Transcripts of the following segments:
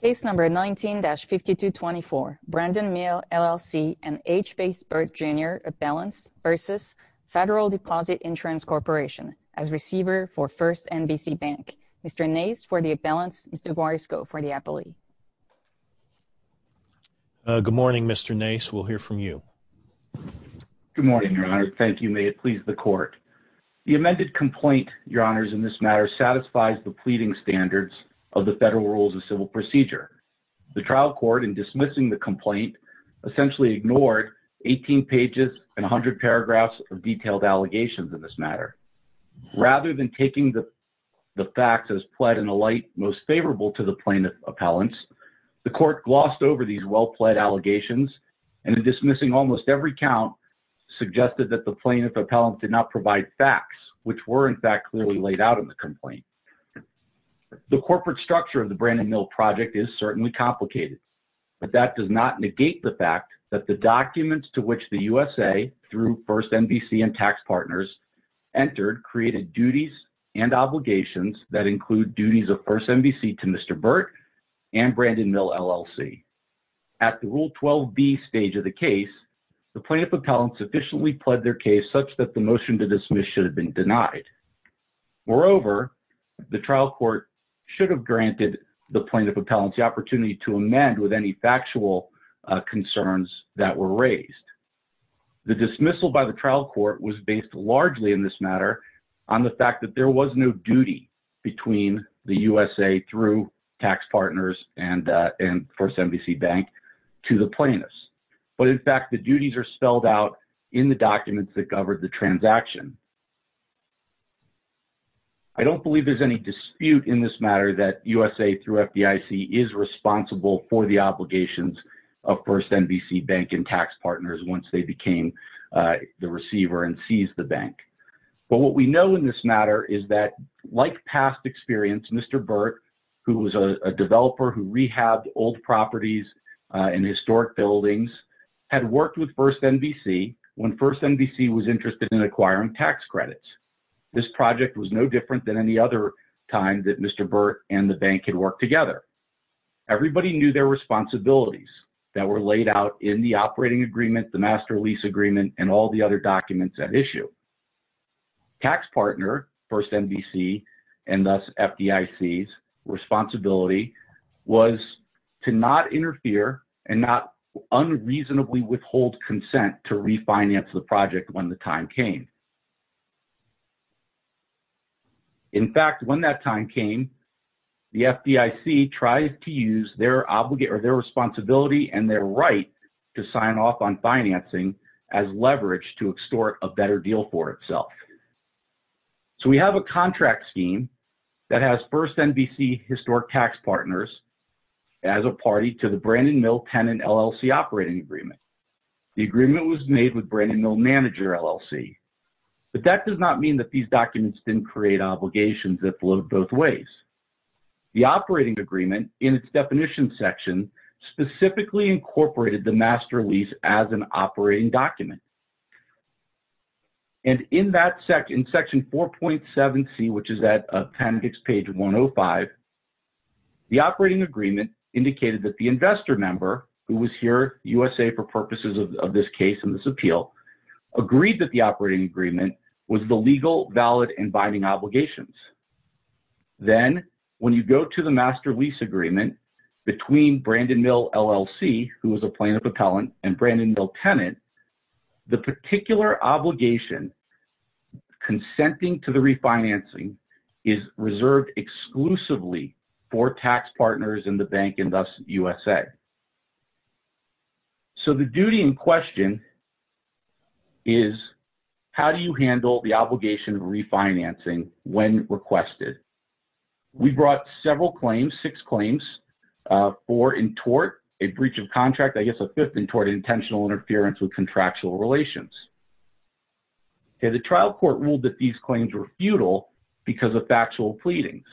Case No. 19-5224, Brandon Mill, LLC and H. Bass Burt, Jr., A Balance v. Federal Deposit Insurance Corporation as receiver for First NBC Bank. Mr. Nace for the A Balance, Mr. Guarisco for the Appellee. Good morning, Mr. Nace. We'll hear from you. Good morning, Your Honor. Thank you. May it please the Court. The amended complaint, Your Federal Rules of Civil Procedure. The trial court in dismissing the complaint essentially ignored 18 pages and 100 paragraphs of detailed allegations in this matter. Rather than taking the facts as pled in a light most favorable to the plaintiff's appellants, the court glossed over these well-pled allegations and in dismissing almost every count, suggested that the plaintiff's The corporate structure of the Brandon Mill project is certainly complicated, but that does not negate the fact that the documents to which the USA through First NBC and tax partners entered created duties and obligations that include duties of First NBC to Mr. Burt and Brandon Mill, LLC. At the Rule 12B stage of the case, the plaintiff's appellants sufficiently pled their case such that the motion to dismiss should have been denied. Moreover, the trial court should have granted the plaintiff appellants the opportunity to amend with any factual concerns that were raised. The dismissal by the trial court was based largely in this matter on the fact that there was no duty between the USA through tax partners and First NBC. The duties are spelled out in the documents that covered the transaction. I don't believe there's any dispute in this matter that USA through FDIC is responsible for the obligations of First NBC bank and tax partners once they became the receiver and seized the bank. But what we know in this matter is that like past experience, Mr. Burt, who was a developer who rehabbed old properties and historic buildings, had worked with First NBC when First NBC was interested in acquiring tax credits. This project was no different than any other time that Mr. Burt and the bank had worked together. Everybody knew their responsibilities that were laid out in the operating agreement, the master lease agreement, and all the other documents at issue. Tax partner, First NBC, and thus FDIC's responsibility was to not interfere and not unreasonably withhold consent to refinance the project when the time came. In fact, when that time came, the FDIC tried to use their responsibility and their right to sign off on financing as leverage to extort a better deal for itself. So we have a contract scheme that has First NBC historic tax partners as a party to the Brandon Mill Tenant LLC operating agreement. The agreement was made with Brandon Mill Manager LLC. But that does not mean that these documents didn't create obligations that flowed both ways. The operating agreement, in its definition section, specifically incorporated the master lease as an operating document. And in that section, in section 4.7C, which is at appendix page 105, the operating agreement indicated that the investor member, who was here USA for purposes of this case and this appeal, agreed that the operating agreement was the Then when you go to the master lease agreement between Brandon Mill LLC, who was a plaintiff appellant, and Brandon Mill Tenant, the particular obligation consenting to the refinancing is reserved exclusively for tax partners in the bank and thus USA. So the duty in question is how do you handle the obligation of refinancing when requested? We brought several claims, six claims, four in tort, a breach of contract, I guess a fifth in tort, intentional interference with contractual relations. The trial court ruled that these claims were futile because of factual pleadings.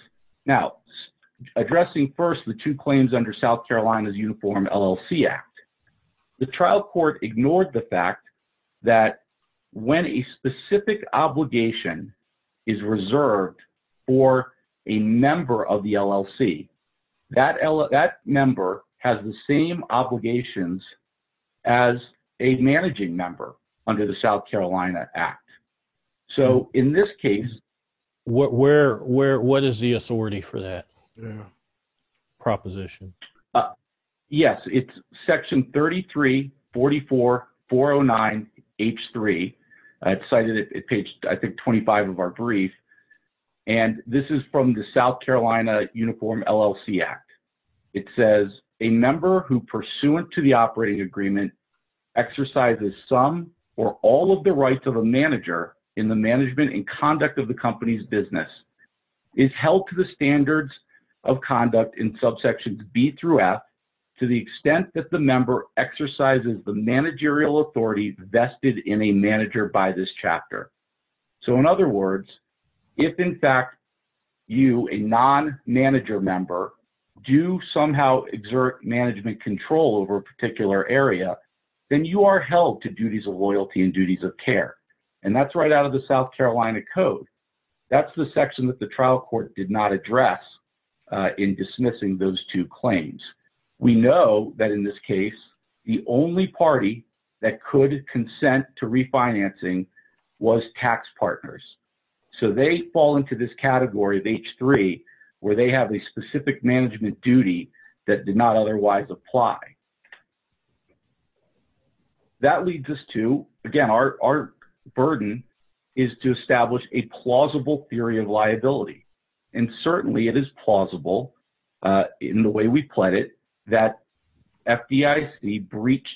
Now, addressing first the two claims under South Carolina's Uniform LLC Act, the trial court ignored the fact that when a specific obligation is reserved for a member of the LLC, that member has the same obligations as a managing member under the South Carolina Act. So in this case- It's section 3344409H3. It's cited at page, I think, 25 of our brief. And this is from the South Carolina Uniform LLC Act. It says, a member who pursuant to the operating agreement exercises some or all of the rights of a manager in the management and conduct of the company's business is held to the standards of conduct in subsections B through F to the extent that the member exercises the managerial authority vested in a manager by this chapter. So in other words, if in fact you, a non-manager member, do somehow exert management control over a particular area, then you are held to duties of loyalty and duties of care. And that's right out of the South Carolina Code. That's the section that the trial court did not address in dismissing those two claims. We know that in this case, the only party that could consent to refinancing was tax partners. So they fall into this category of H3 where they have a specific management duty that did not otherwise apply. That leads us to, again, our burden is to establish a plausible theory of liability. And certainly it is plausible in the way we pled it, that FDIC breached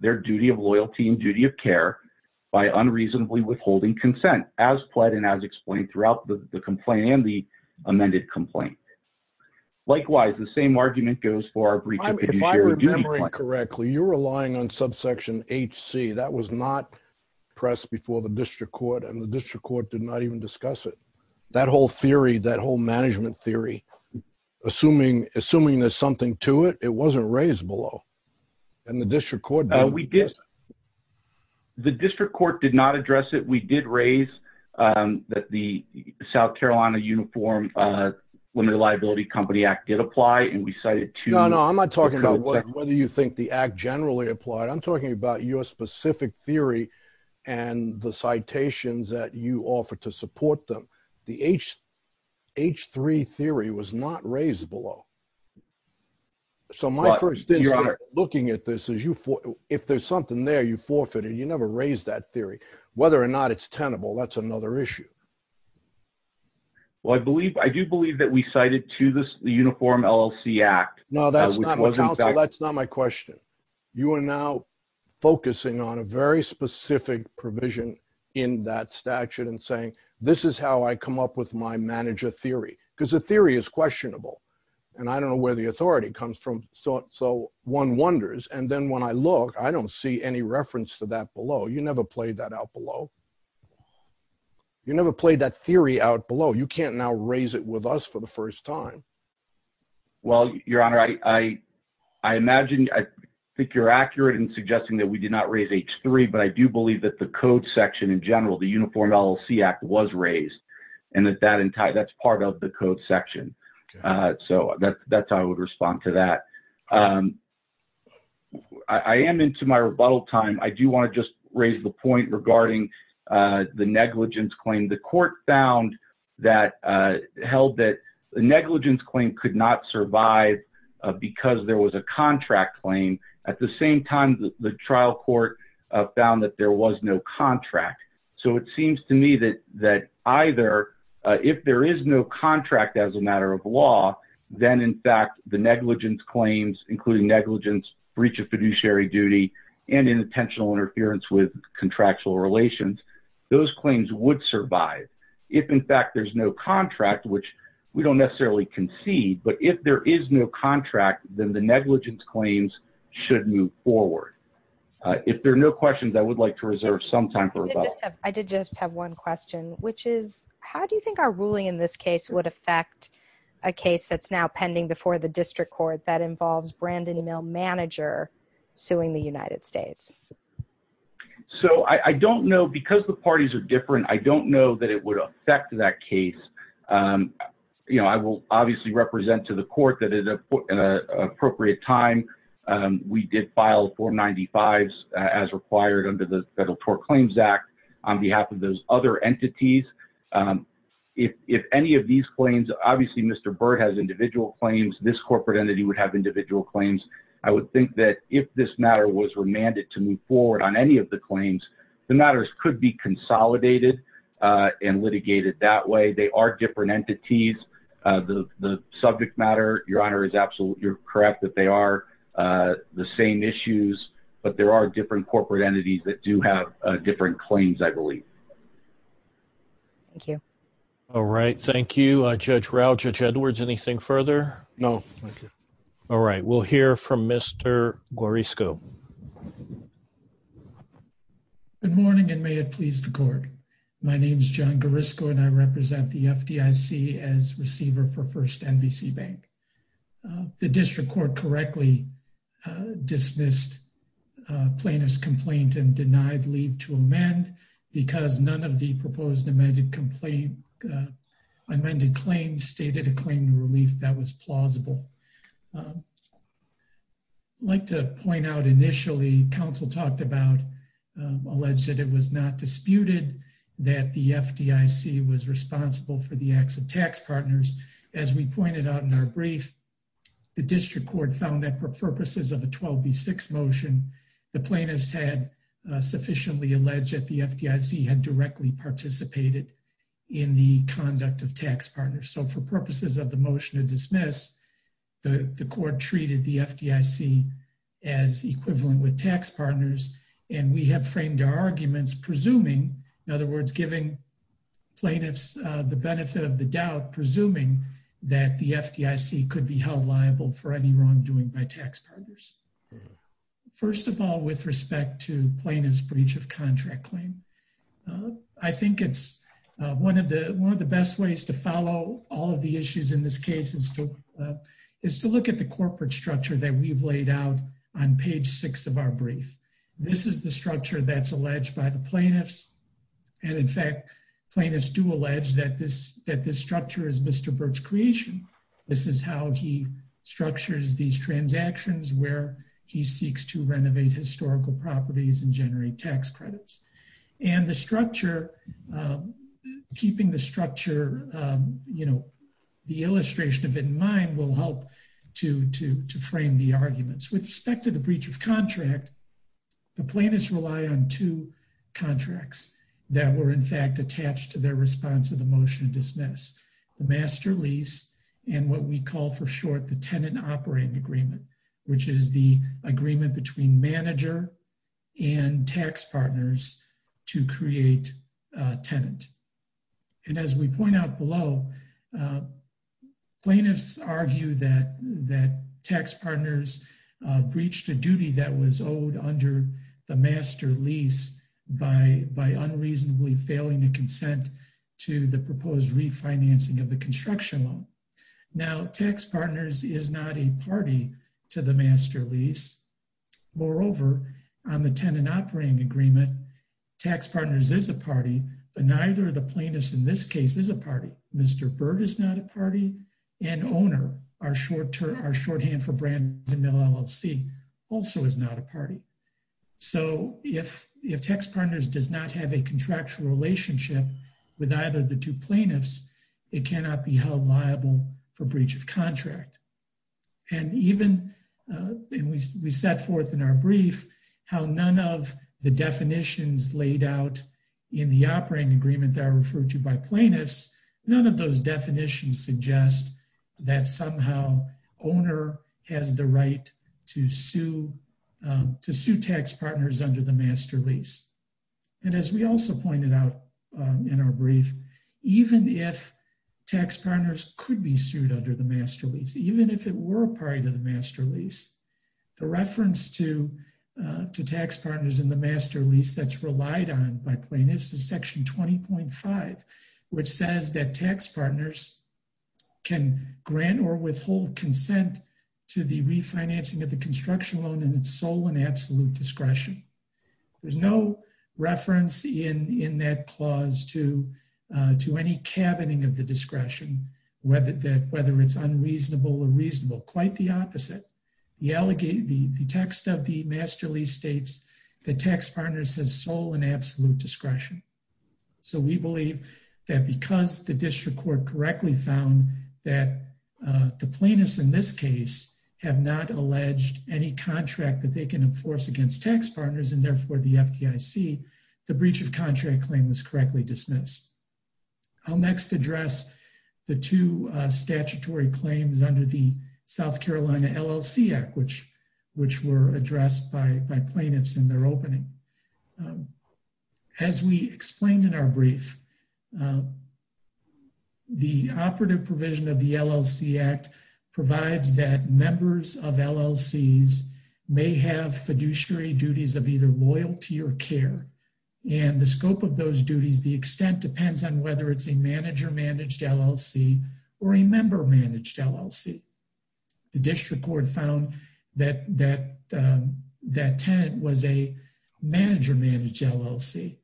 their duty of loyalty and duty of care by unreasonably withholding consent as pled and as explained throughout the complaint and the amended complaint. Likewise, the same argument goes for our breach of the duty of was not pressed before the district court and the district court did not even discuss it. That whole theory, that whole management theory, assuming there's something to it, it wasn't raised below. And the district court... The district court did not address it. We did raise that the South Carolina Uniform Limited Liability Company Act did apply. And we cited to... No, no, I'm not talking about whether you think the act generally applied. I'm talking about your specific theory and the citations that you offered to support them. The H3 theory was not raised below. So my first instinct looking at this is if there's something there you forfeited, you never raised that theory. Whether or not it's tenable, that's another issue. Well, I do believe that we cited to the Uniform LLC Act. No, that's not my question. You are now focusing on a very specific provision in that statute and saying, this is how I come up with my manager theory. Because the theory is questionable. And I don't know where the authority comes from. So one wonders. And then when I look, I don't see any reference to that below. You never played that out below. You never played that theory out below. You can't now raise it with us for the first time. Well, Your Honor, I imagine, I think you're accurate in suggesting that we did not raise H3. But I do believe that the code section in general, the Uniform LLC Act was raised. And that's part of the code section. So that's how I would respond to that. I am into my rebuttal time. I do want to just raise the point regarding the negligence claim. The court found that, held that the negligence claim could not survive because there was a contract claim. At the same time, the trial court found that there was no contract. So it seems to me that either, if there is no contract as a matter of law, then in fact, the negligence claims, including negligence, breach of fiduciary duty, and intentional interference with contractual relations, those claims would survive. If, in fact, there's no contract, which we don't necessarily concede, but if there is no contract, then the negligence claims should move forward. If there are no questions, I would like to reserve some time for rebuttal. I did just have one question, which is, how do you think our ruling in this case would affect a case that's now pending before the district court that involves Brandon E. Mill, manager, suing the United States? So I don't know. Because the parties are different, I don't know that it would affect that case. I will obviously represent to the court that, at an appropriate time, we did file 495s as required under the Federal Tort Claims Act on behalf of those other entities. If any of these claims, obviously, Mr. Byrd has individual claims. This corporate entity would have individual claims. I would think that if this matter was remanded to move forward on any of the claims, the matters could be consolidated and litigated that way. They are different entities. The subject matter, Your Honor, is absolutely correct that they are the same issues, but there are different corporate entities that do have different claims, I believe. Thank you. All right. Thank you, Judge Rao. Judge Edwards, anything further? No, thank you. All right. We'll hear from Mr. Gorisco. Good morning, and may it please the court. My name is John Gorisco, and I represent the FDIC as receiver for First NBC Bank. The district court correctly dismissed plaintiff's complaint and denied leave to amend because none of the proposed amended claims stated a claim to relief that was plausible. I'd like to point out, initially, counsel talked about, alleged that it was not disputed that the FDIC was responsible for the acts of tax partners. As we pointed out in our brief, the district court found that for purposes of a 12B6 motion, the plaintiffs had sufficiently alleged that the FDIC had directly participated in the conduct of tax partners. For purposes of the motion to dismiss, the court treated the FDIC as equivalent with tax partners, and we have framed our arguments presuming, in other words, giving plaintiffs the benefit of the doubt, presuming that the FDIC could be held liable for any wrongdoing by tax partners. First of all, with respect to plaintiff's breach of contract claim, I think it's one of the best ways to follow all of the issues in this case is to look at the corporate structure that we've laid out on page six of our brief. This is the structure that's alleged by the plaintiffs, and in fact, plaintiffs do allege that this structure is to Bert's creation. This is how he structures these transactions where he seeks to renovate historical properties and generate tax credits. And the structure, keeping the structure, you know, the illustration of it in mind will help to frame the arguments. With respect to the breach of contract, the plaintiffs rely on two contracts that were in fact attached to their response to motion to dismiss, the master lease and what we call for short the tenant operating agreement, which is the agreement between manager and tax partners to create a tenant. And as we point out below, plaintiffs argue that tax partners breached a duty that was owed under the master lease by unreasonably failing to consent to the proposed refinancing of the construction loan. Now, tax partners is not a party to the master lease. Moreover, on the tenant operating agreement, tax partners is a party, but neither of the plaintiffs in this case is a party. Mr. Bert is not a party, and owner, our shorthand for Brandon Mill LLC, also is not a party. So if tax partners does not have a contractual relationship with either of the two plaintiffs, it cannot be held liable for breach of contract. And even we set forth in our brief how none of the definitions laid out in the operating agreement that are referred to by plaintiffs, none of those definitions suggest that somehow owner has the right to sue tax partners under the master lease. And as we also pointed out in our brief, even if tax partners could be sued under the master lease, even if it were a part of the master lease, the reference to tax partners in the master lease that's relied on by plaintiffs is section 20.5, which says that tax partners can grant or withhold consent to the refinancing of the construction loan and its sole and absolute discretion. There's no reference in that clause to any cabining of the discretion, whether it's unreasonable or reasonable, quite the opposite. The text of the master lease states that tax partners has sole and absolute discretion. So we believe that because the district court correctly found that the plaintiffs in this case have not alleged any contract that they can enforce against tax partners and therefore the FDIC, the breach of contract claim was correctly dismissed. I'll next address the two statutory claims under the South Carolina LLC Act, which were addressed by plaintiffs in their opening. As we explained in our brief, the operative provision of the LLC Act provides that members of LLCs may have fiduciary duties of either loyalty or care. And the scope of those duties, the extent depends on whether it's a manager-managed LLC or a member-managed LLC. The district court found that that tenant was a manager-managed LLC.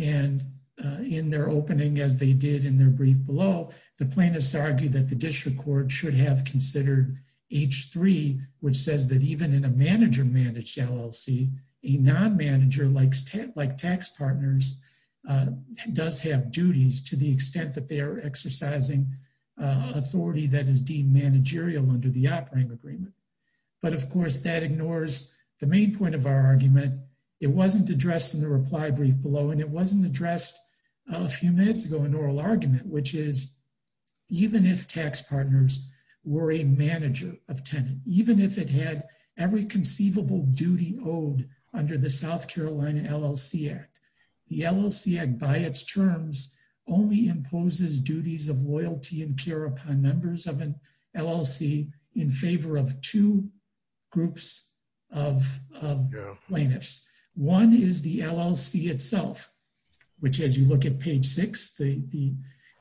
And in their opening, as they did in their brief below, the plaintiffs argued that the district court should have considered H-3, which says that even in a manager-managed LLC, a non-manager like tax partners does have duties to the extent that they are exercising authority that is deemed managerial under the operating agreement. But of course that ignores the main point of our argument. It wasn't addressed in the reply brief below and it wasn't addressed a few minutes ago in oral argument, which is even if tax partners were a manager of tenant, even if it had every conceivable duty owed under the South Carolina LLC Act, the LLC Act by its terms only imposes duties of loyalty and care upon members of an LLC in favor of two groups of plaintiffs. One is the LLC itself, which as you look at page six, the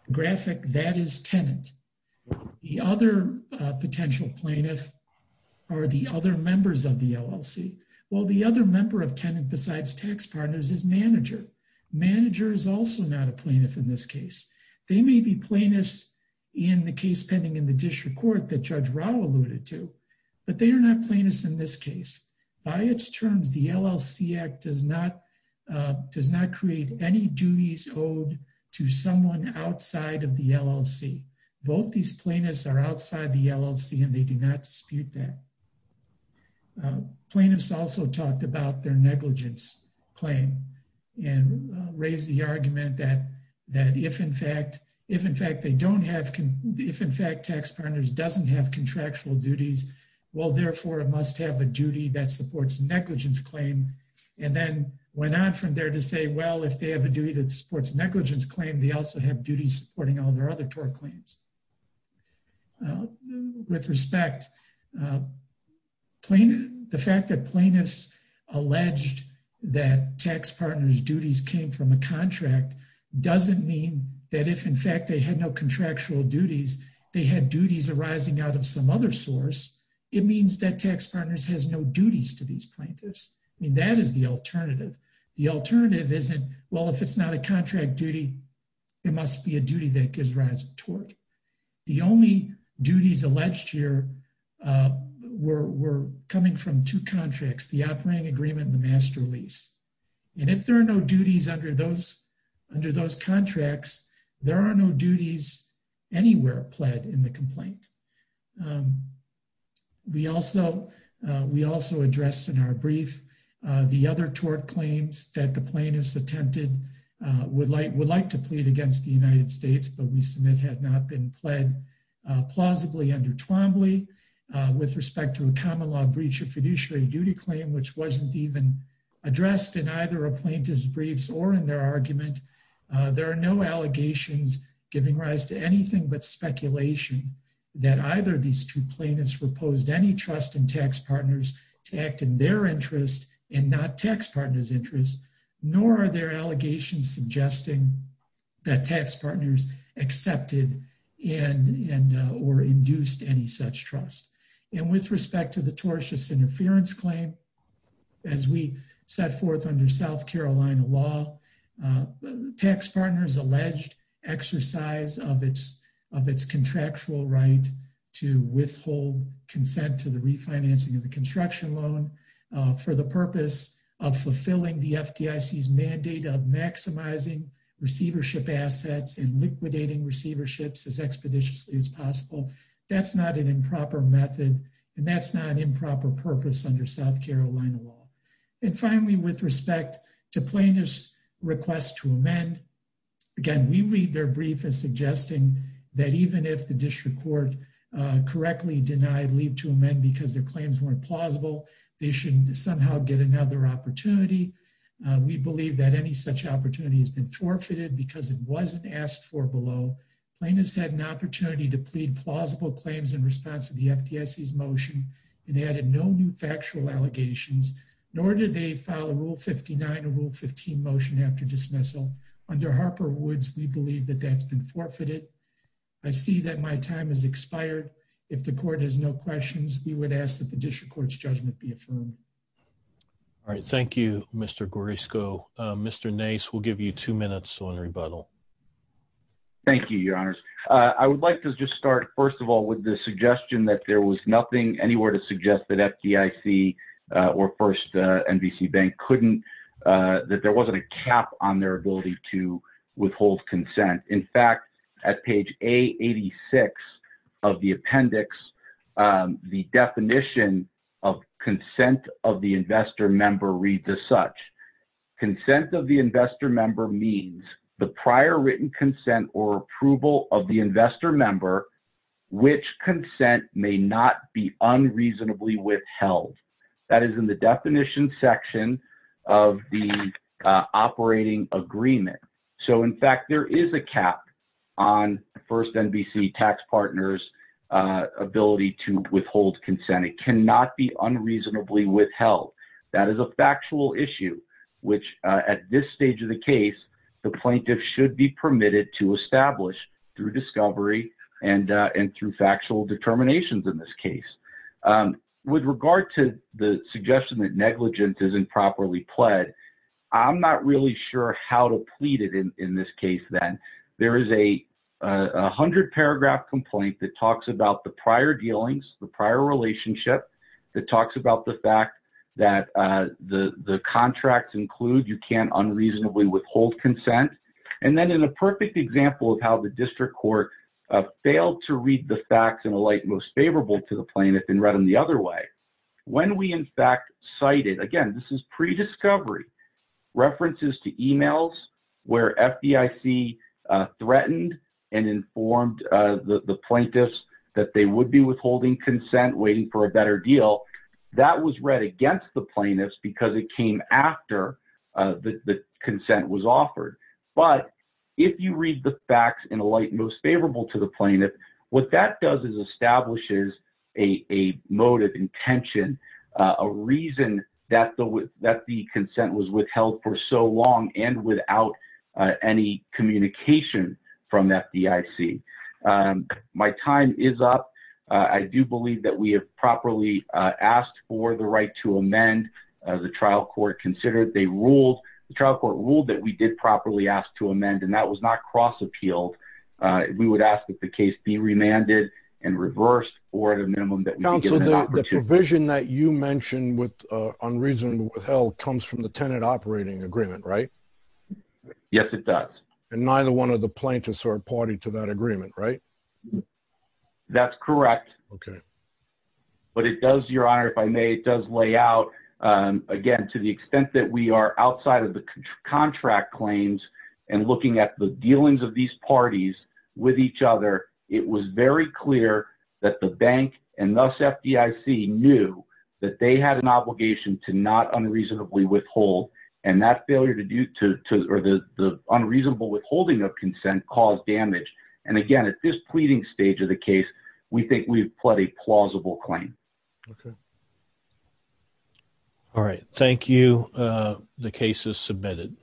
graphic that is tenant. The other potential plaintiff are the other members of the LLC. Well, the other member of tenant besides tax partners is manager. Manager is also not a plaintiff in this case. They may be plaintiffs in the case pending in the district court that Judge Rao alluded to, but they are not plaintiffs in this case. By its terms, the LLC Act does not create any duties owed to someone outside of the LLC. Both these plaintiffs are outside the LLC and they do not dispute that. Plaintiffs also talked about their negligence claim and raised the argument that if in fact they don't have, if in fact tax partners doesn't have contractual duties, well, therefore it must have a duty that supports negligence claim. And then went on from there to say, well, if they have a duty that supports negligence claim, they also have duties supporting all their other tort claims. With respect, the fact that plaintiffs alleged that tax partners' duties came from a contract doesn't mean that if in fact they had no contractual duties, they had duties arising out of some other source. It means that tax partners has no duties to these plaintiffs. I mean, that is the alternative. The alternative isn't, well, if it's not a contract duty, it must be a duty that gives rise to tort. The only duties alleged here were coming from two contracts, the operating agreement and the master lease. And if there are no duties under those contracts, there are no duties anywhere pled in the complaint. We also addressed in our brief the other tort claims that the plaintiffs attempted would like to plead against the United States, but we submit had not been pled plausibly under Twombly. With respect to a common law breach of fiduciary duty claim, which wasn't even addressed in either a plaintiff's briefs or in their argument, there are no allegations giving anything but speculation that either of these two plaintiffs proposed any trust in tax partners to act in their interest and not tax partners' interest, nor are there allegations suggesting that tax partners accepted or induced any such trust. And with respect to the tortious of its contractual right to withhold consent to the refinancing of the construction loan for the purpose of fulfilling the FDIC's mandate of maximizing receivership assets and liquidating receiverships as expeditiously as possible, that's not an improper method, and that's not improper purpose under South Carolina law. And finally, with respect to plaintiff's request to that even if the district court correctly denied leave to amend because their claims weren't plausible, they should somehow get another opportunity. We believe that any such opportunity has been forfeited because it wasn't asked for below. Plaintiffs had an opportunity to plead plausible claims in response to the FDIC's motion and added no new factual allegations, nor did they file a Rule 59 or Rule 15 motion after dismissal. Under Harper Woods, we believe that that's been forfeited. I see that my time has expired. If the court has no questions, we would ask that the district court's judgment be affirmed. All right. Thank you, Mr. Gorisco. Mr. Nace, we'll give you two minutes on rebuttal. Thank you, Your Honors. I would like to just start, first of all, with the suggestion that there was nothing anywhere to suggest that holds consent. In fact, at page A86 of the appendix, the definition of consent of the investor member reads as such. Consent of the investor member means the prior written consent or approval of the investor member which consent may not be unreasonably withheld. That is in the cap on the first NBC tax partner's ability to withhold consent. It cannot be unreasonably withheld. That is a factual issue which, at this stage of the case, the plaintiff should be permitted to establish through discovery and through factual determinations in this case. With regard to the suggestion that negligence is improperly pled, I'm not really sure how to then, there is a hundred paragraph complaint that talks about the prior dealings, the prior relationship, that talks about the fact that the contracts include you can't unreasonably withhold consent. Then in a perfect example of how the district court failed to read the facts and alight most favorable to the plaintiff and read them the other way, when we in fact cited, again, this is pre-discovery, references to emails where FDIC threatened and informed the plaintiffs that they would be withholding consent waiting for a better deal, that was read against the plaintiffs because it came after the consent was offered. But if you read the facts and alight most favorable to the plaintiff, what that does is establishes a motive intention, a reason that the consent was withheld for so long and without any communication from FDIC. My time is up. I do believe that we have properly asked for the right to amend. The trial court considered, they ruled, the trial court ruled that we did properly ask to amend and that was not cross appealed. We would ask that the case be remanded and reversed for the minimum that we could get an unreasonable withheld comes from the tenant operating agreement, right? Yes, it does. And neither one of the plaintiffs are party to that agreement, right? That's correct. But it does, your honor, if I may, it does lay out, again, to the extent that we are outside of the contract claims and looking at the dealings of these parties with each other, it was very clear that the bank and thus FDIC knew that they had an obligation to not unreasonably withhold and that failure to do, or the unreasonable withholding of consent caused damage. And again, at this pleading stage of the case, we think we've pled a plausible claim. All right. Thank you. The case is submitted.